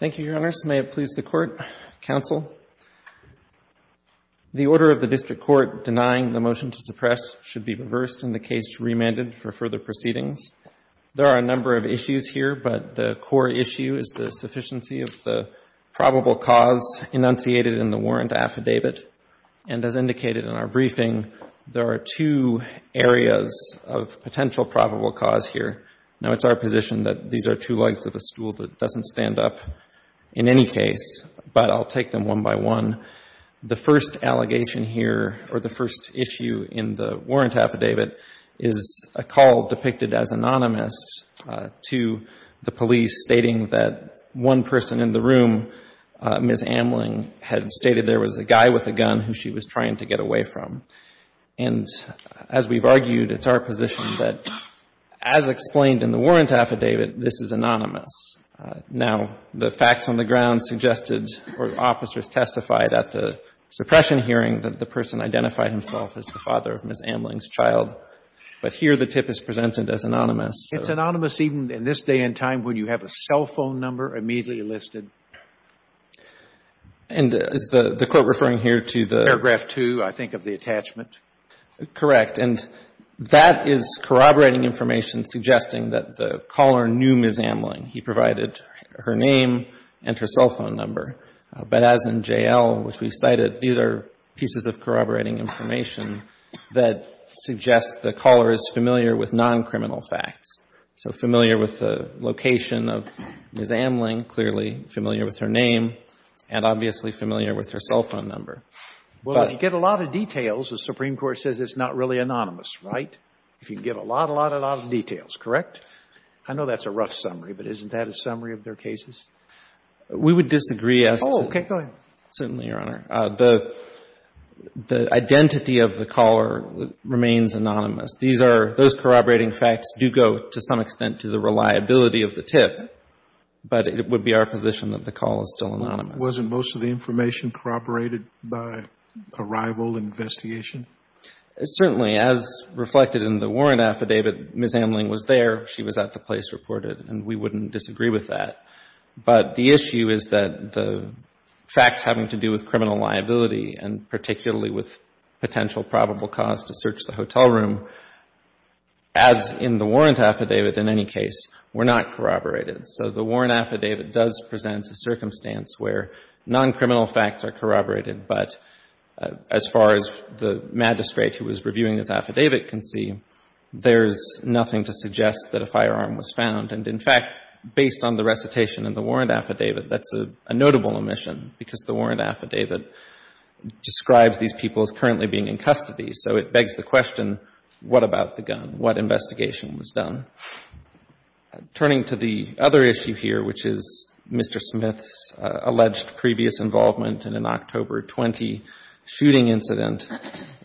Thank you, Your Honor. This may have pleased the Court. Counsel, the order of the District Court denying the motion to suppress should be reversed and the case remanded for further proceedings. There are a number of issues here, but the core issue is the sufficiency of the probable cause enunciated in the warrant affidavit. And as indicated in our briefing, there are two areas of potential probable cause here. Now, it's our position that these are two legs of a stool that doesn't stand up in any case, but I'll take them one by one. The first allegation here or the first issue in the warrant affidavit is a call depicted as anonymous to the police stating that one person in the room, Ms. Amling, had stated there was a guy with a gun who she was trying to get away from. And as we've argued, it's our position that as explained in the warrant affidavit, this is anonymous. Now, the facts on the ground suggested or officers testified at the suppression hearing that the person identified himself as the father of Ms. Amling's child, but here the tip is presented as anonymous. Robertson It's anonymous even in this day and time when you have a cell phone number immediately listed. And is the Court referring here to the ---- Garreau Paragraph 2, I think, of the attachment. Correct. And that is corroborating information suggesting that the caller knew Ms. Amling. He provided her name and her cell phone number. But as in J.L., which we cited, these are pieces of corroborating information that suggest the caller is familiar with non-criminal facts. So familiar with the location of Ms. Amling, clearly familiar with her name, and obviously familiar with her cell phone number. Robertson Well, if you get a lot of details, the Supreme Court says it's not really anonymous, right? If you can get a lot, a lot, a lot of details, correct? I know that's a rough summary, but isn't that a summary of their cases? Garreau Paragraph 2 We would disagree as to ---- Robertson Oh, okay. Go ahead. Garreau Paragraph 2 Certainly, Your Honor. The identity of the caller remains anonymous. These are ---- those corroborating facts do go, to some extent, to the reliability of the tip. But it would be our position that the call is still anonymous. Scalia Wasn't most of the information corroborated by arrival and investigation? Garreau Paragraph 2 Certainly. As reflected in the warrant affidavit, Ms. Amling was there. She was at the place reported. And we wouldn't disagree with that. But the issue is that the facts having to do with criminal liability, and particularly with potential probable cause to search the hotel room, as in the warrant affidavit in any case, were not corroborated. So the warrant affidavit does present a circumstance where noncriminal facts are corroborated. But as far as the magistrate who was reviewing this affidavit can see, there's nothing to suggest that a firearm was found. And, in fact, based on the recitation in the warrant affidavit, that's a notable omission, because the warrant affidavit describes these people as currently being in custody. So it begs the question, what about the gun? What investigation was done? Turning to the other issue here, which is Mr. Smith's alleged previous involvement in an October 20 shooting incident,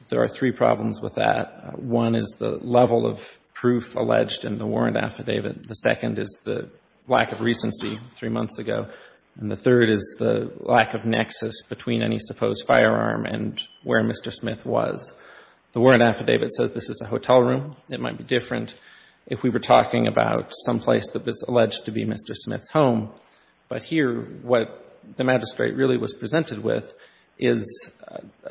there are three problems with that. One is the level of proof alleged in the warrant affidavit. The second is the lack of recency three the lack of nexus between any supposed firearm and where Mr. Smith was. The warrant affidavit says this is a hotel room. It might be different if we were talking about someplace that was alleged to be Mr. Smith's home. But here, what the magistrate really was presented with is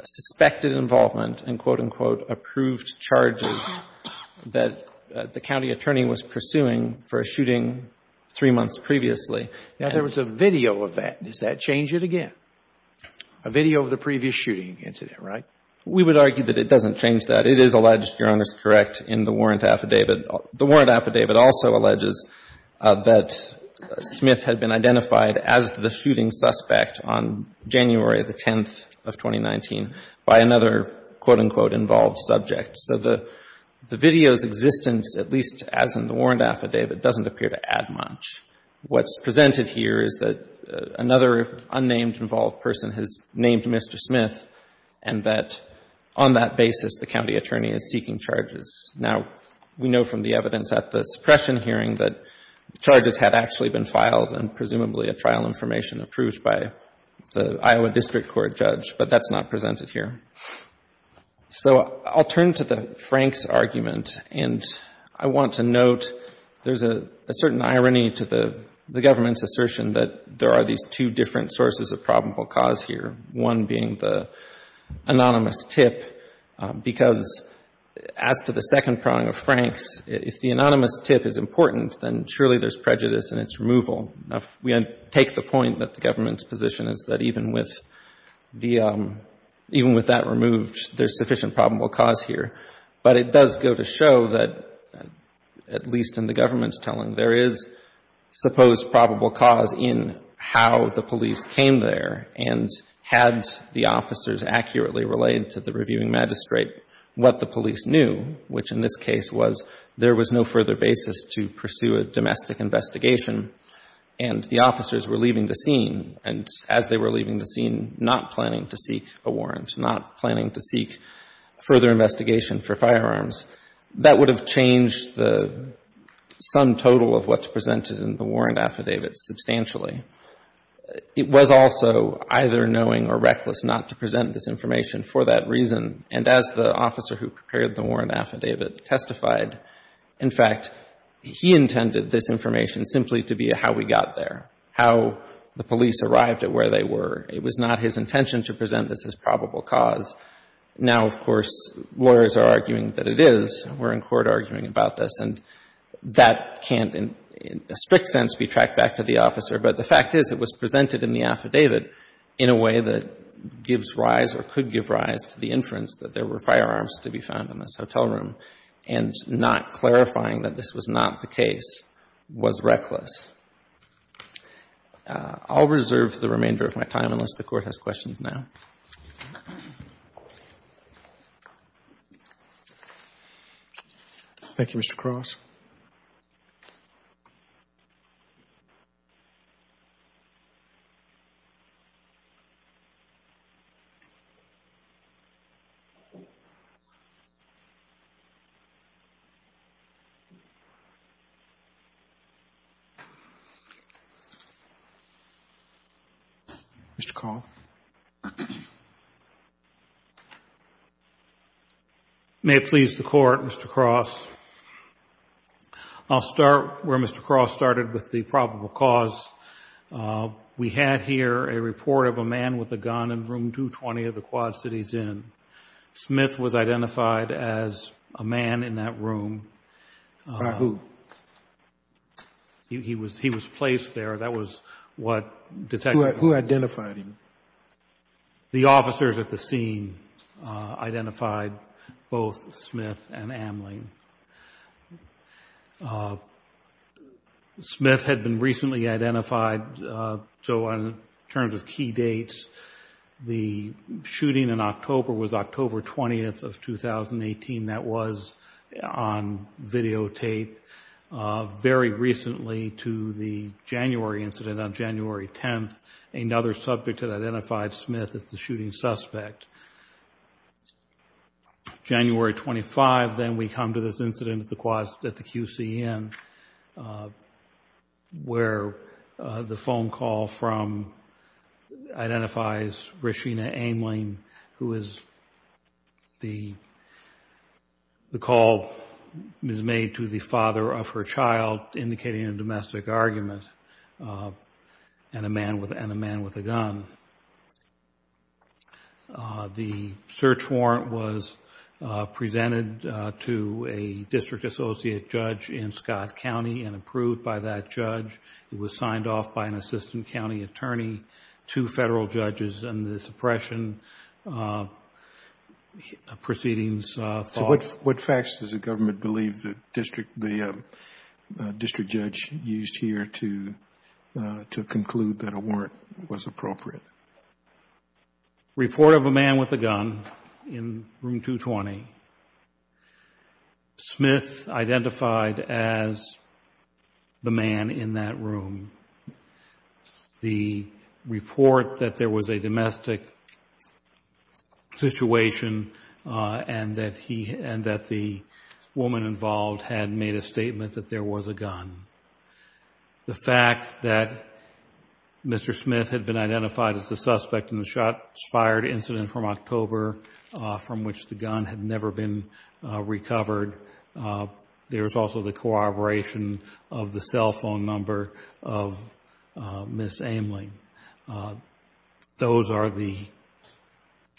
suspected involvement in, quote, unquote, approved charges that the county attorney was pursuing for a shooting three months previously. Now, there was a video of that. Does that change it again? A video of the previous shooting incident, right? We would argue that it doesn't change that. It is alleged, Your Honor, is correct in the warrant affidavit. The warrant affidavit also alleges that Smith had been identified as the shooting suspect on January the 10th of 2019 by another, quote, unquote, involved subject. So the video's presented here is that another unnamed involved person has named Mr. Smith and that on that basis the county attorney is seeking charges. Now, we know from the evidence at the suppression hearing that charges had actually been filed and presumably a trial information approved by the Iowa District Court judge, but that's not presented here. So I'll turn to the Franks argument, and I want to note there's a certain irony to the government's assertion that there are these two different sources of probable cause here, one being the anonymous tip, because as to the second prong of Franks, if the anonymous tip is important, then surely there's prejudice in its sufficient probable cause here. But it does go to show that, at least in the government's telling, there is supposed probable cause in how the police came there and had the officers accurately related to the reviewing magistrate what the police knew, which in this case was there was no further basis to pursue a domestic investigation and the officers were leaving the scene, and as they were leaving the scene, not planning to seek a warrant, not planning to seek further investigation for firearms. That would have changed the sum total of what's presented in the warrant affidavit substantially. It was also either knowing or reckless not to present this information for that reason, and as the officer who prepared the warrant affidavit testified, in fact, he intended this information simply to be how we got there, how the police arrived at where they were. It was not his intention to present this as probable cause. Now, of course, lawyers are arguing that it is. We're in court arguing about this, and that can't in a strict sense be tracked back to the officer. But the fact is it was presented in the affidavit in a way that gives rise or could give rise to the inference that there were firearms to be found in this hotel room, and not clarifying that this was not the case was reckless. I'll reserve the remainder of my time unless the Court has questions now. Thank you, Mr. Cross. Mr. Kahl? May it please the Court, Mr. Cross. I'll start where Mr. Cross started with the probable cause. We had here a report of a man with a gun in room 220 of the Quad Cities Inn. Smith was identified as a man in that room. By who? He was placed there. That was what Det. Who identified him? The officers at the scene identified both Smith and Amling. Smith had been recently identified, so in terms of key dates, the shooting in October was October 20th of 2018. That was on videotape. Very recently to the January incident on January 10th, another subject had identified Smith as the shooting suspect. January 25, then we come to this incident at the QC Inn, where the phone call from, identifies Rashina Amling, who is the call made to the father of her child, indicating a domestic argument, and a man with a gun. The search warrant was presented to a district associate judge in Scott County and approved by that judge. It was signed off by an assistant county attorney, two Federal judges, and the suppression proceedings followed. What facts does the government believe the district judge used here to conclude that a warrant was appropriate? Report of a man with a gun in room 220. Smith identified as the man in that room. The report that there was a domestic situation and that the woman involved had made a statement that there was a gun. The fact that Mr. Smith had been identified as the suspect in the shots fired incident from October, from which the gun had never been recovered. There is also the corroboration of the cell phone number, of Ms. Amling. Those are the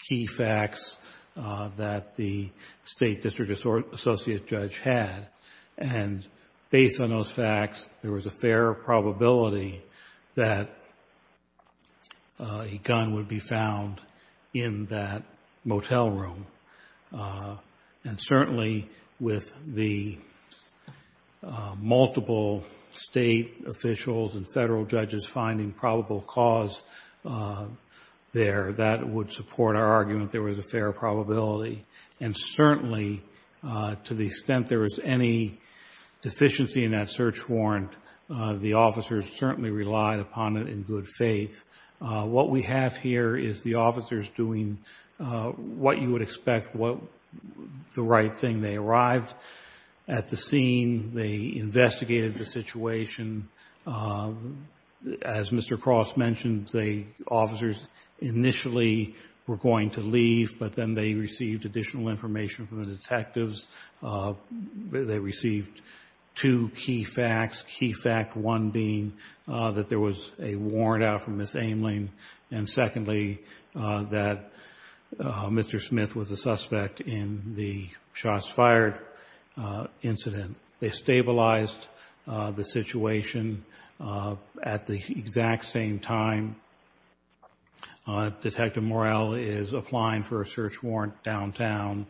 key facts that the state district associate judge had. Based on those facts, there was a fair probability that a gun would be found in that motel room. Certainly, with the multiple state officials and Federal judges finding probable cause there, that would support our argument. There was a fair probability. Certainly, to the extent there was any deficiency in that search warrant, the officers certainly relied upon it in good faith. What we have here is the officers doing what you would expect the right thing. They arrived at the scene. They investigated the situation. As Mr. Cross mentioned, the officers initially were going to leave, but then they received additional information from the detectives. They received two key facts. Key fact one being that there was a warrant out from Ms. Amling. And secondly, that Mr. Smith was a suspect in the shots fired incident. They stabilized the situation at the exact same time Detective Morrell is applying for a search warrant downtown.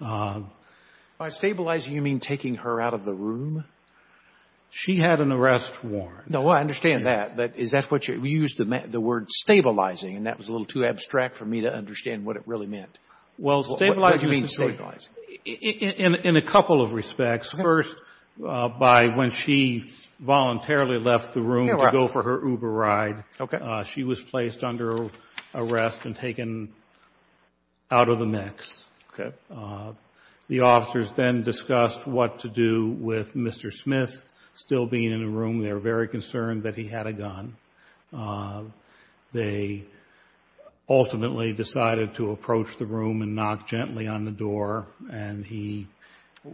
By stabilizing, you mean taking her out of the room? She had an arrest warrant. No, I understand that. We used the word stabilizing, and that was a little too abstract for me to understand what it really meant. What do you mean stabilizing? In a couple of respects. First, when she voluntarily left the room to go for her Uber ride, she was placed under arrest and taken out of the mix. The officers then discussed what to do with Mr. Smith still being in the room. They were very concerned that he had a gun. They ultimately decided to approach the room and knock gently on the door, and he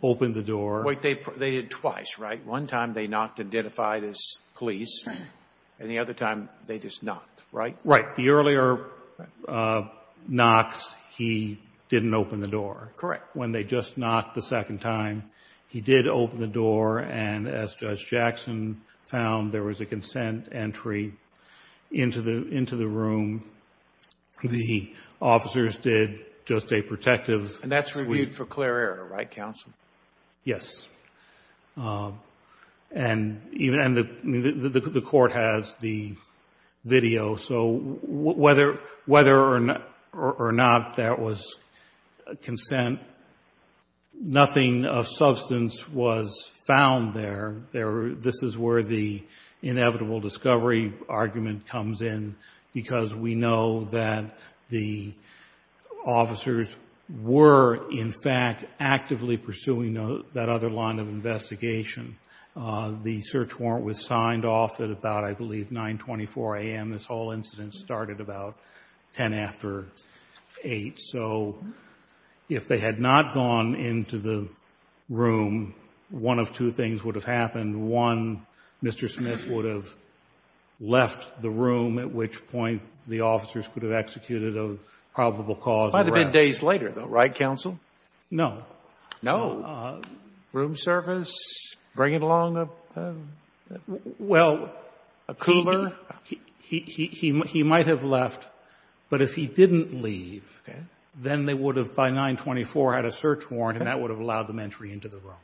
opened the door. Wait, they did it twice, right? One time they knocked to identify this police, and the other time they just knocked, right? Right. The earlier knocks, he didn't open the door. Correct. When they just knocked the second time, he did open the door, and as Judge Jackson found, there was a consent entry into the room. The officers did just a protective sweep. And that's reviewed for clear error, right, counsel? Yes. And the court has the video. So whether or not there was consent, nothing of substance was found there. This is where the inevitable discovery argument comes in, because we know that the officers were, in fact, actively pursuing that other line of investigation. The search warrant was signed off at about, I believe, 924 a.m. This whole incident started about ten after eight. So if they had not gone into the room, one of two things would have happened. One, Mr. Smith would have left the room, at which point the officers could have executed a probable cause of arrest. Might have been days later, though, right, counsel? No. Room service, bringing along a cooler? Well, he might have left, but if he didn't leave, then they would have, by 924, had a search warrant, and that would have allowed them entry into the room.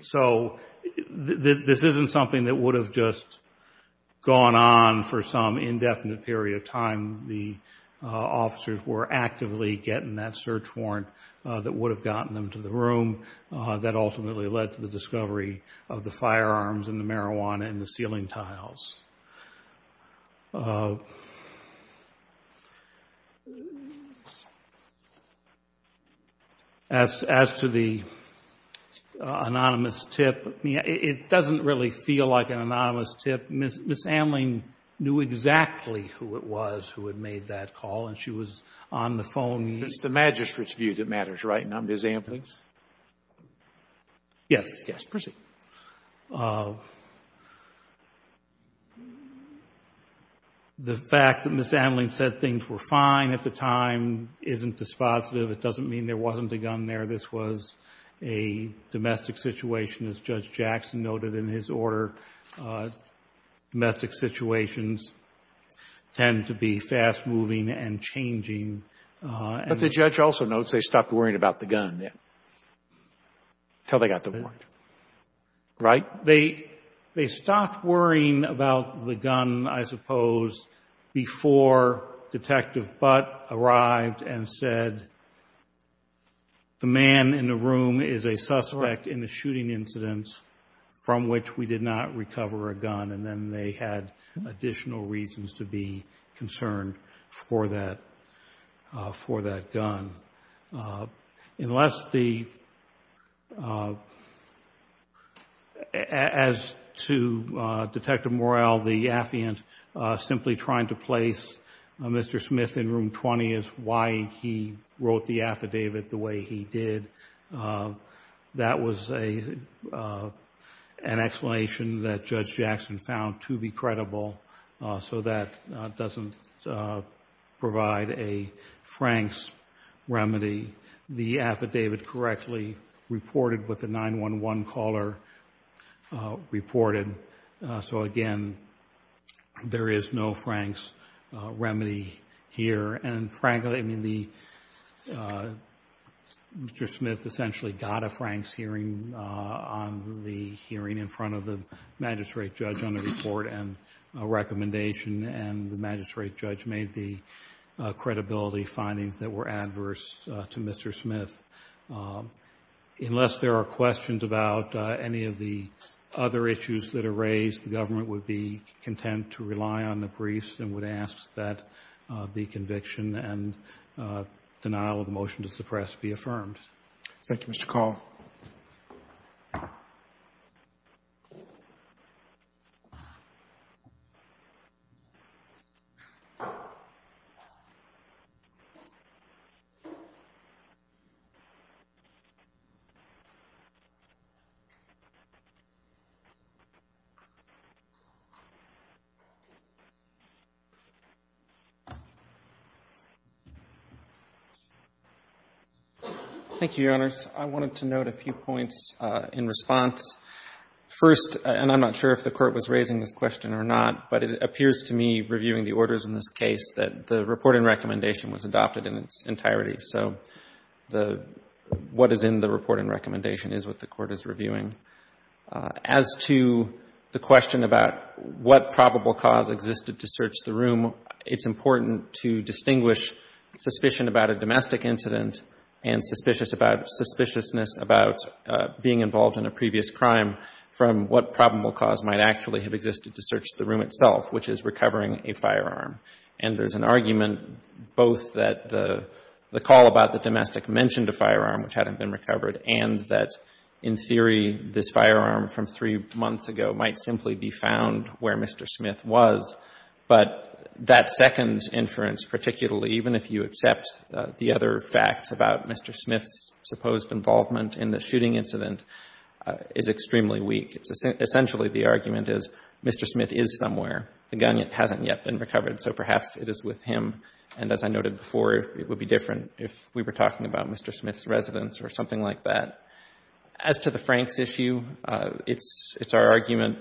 So this isn't something that would have just gone on for some indefinite period of time. The officers were actively getting that search warrant that would have gotten them to the room. That ultimately led to the discovery of the firearms and the marijuana and the ceiling tiles. As to the anonymous tip, it doesn't really feel like an anonymous tip. Ms. Amling knew exactly who it was who had made that call, and she was on the phone. It's the magistrate's view that matters, right, and not Ms. Amling's? Yes. Yes. Proceed. The fact that Ms. Amling said things were fine at the time isn't dispositive. It doesn't mean there wasn't a gun there. This was a domestic situation, as Judge Jackson noted in his order. Domestic situations tend to be fast-moving and changing. But the judge also notes they stopped worrying about the gun then, until they got the warrant. Right? They stopped worrying about the gun, I suppose, before Detective Butt arrived and said, the man in the room is a suspect in a shooting incident from which we did not recover a gun, and then they had additional reasons to be concerned for that gun. Unless the, as to Detective Morrell, the affiant simply trying to place Mr. Smith in room 20 is why he wrote the affidavit the way he did. That was an explanation that Judge Jackson found to be credible, so that doesn't provide a Frank's remedy. The affidavit correctly reported what the 911 caller reported. So again, there is no Frank's remedy here. And frankly, I mean, Mr. Smith essentially got a Frank's hearing on the hearing in front of the magistrate judge made the credibility findings that were adverse to Mr. Smith. Unless there are questions about any of the other issues that are raised, the government would be content to rely on the briefs and would ask that the conviction and denial of the motion to suppress be affirmed. Thank you, Mr. Call. Thank you, Your Honors. I wanted to note a few points in response. First, and I'm not sure if the Court was raising this question or not, but it appears to me reviewing the orders in this case that the report and recommendation was adopted in its entirety. So what is in the report and recommendation is what the Court is reviewing. As to the question about what probable cause existed to search the room, it's important to distinguish suspicion about a domestic incident and suspiciousness about being involved in a previous crime from what probable cause might actually have existed to search the room itself, which is recovering a firearm. And there's an argument both that the call about the domestic mentioned a firearm which hadn't been recovered and that, in theory, this firearm from three months ago might simply be found where Mr. Smith was. But that second inference, particularly even if you accept the other facts about Mr. Smith's supposed involvement in the shooting incident, is extremely weak. Essentially, the argument is Mr. Smith is somewhere. The gun hasn't yet been recovered, so perhaps it is with him. And as I noted before, it would be different if we were talking about Mr. Smith's residence or something like that. As to the Franks issue, it's our argument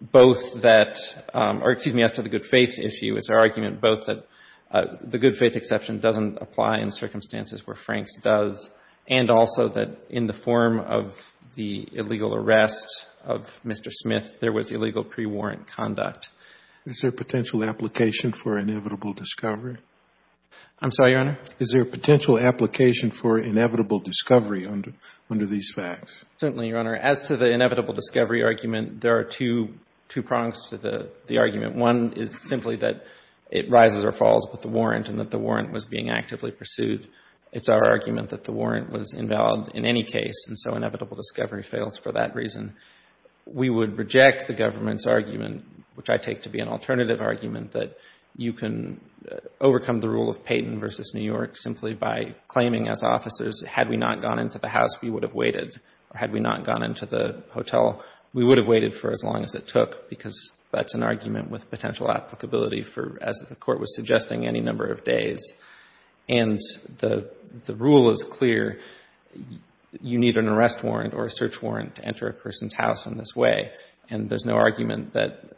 both that or, excuse me, as to the good faith issue, it's our argument both that the good faith exception doesn't apply in circumstances where Franks does, and also that in the form of the illegal arrest of Mr. Smith, there was illegal pre-warrant conduct. Is there potential application for inevitable discovery? I'm sorry, Your Honor? Is there potential application for inevitable discovery under these facts? Certainly, Your Honor. As to the inevitable discovery argument, there are two prongs to the argument. One is simply that it rises or falls with the warrant and that the warrant was being actively pursued. It's our argument that the warrant was invalid in any case, and so inevitable discovery fails for that reason. We would reject the government's argument, which I take to be an alternative argument, that you can make in New York simply by claiming as officers, had we not gone into the house, we would have waited. Or had we not gone into the hotel, we would have waited for as long as it took, because that's an argument with potential applicability for, as the Court was suggesting, any number of days. And the rule is clear. You need an arrest warrant or a search warrant to enter a person's house in this way. And there's no argument that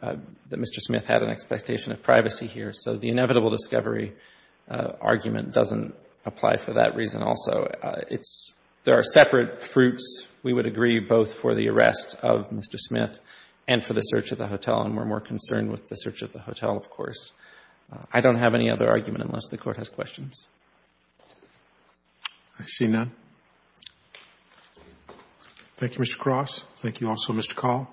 Mr. Smith had an expectation of privacy here, so the inevitable discovery argument doesn't apply for that reason also. There are separate fruits, we would agree, both for the arrest of Mr. Smith and for the search of the hotel, and we're more concerned with the search of the hotel, of course. I don't have any other argument unless the Court has questions. I see none. Thank you, Mr. Cross. Thank you also, Mr. Call.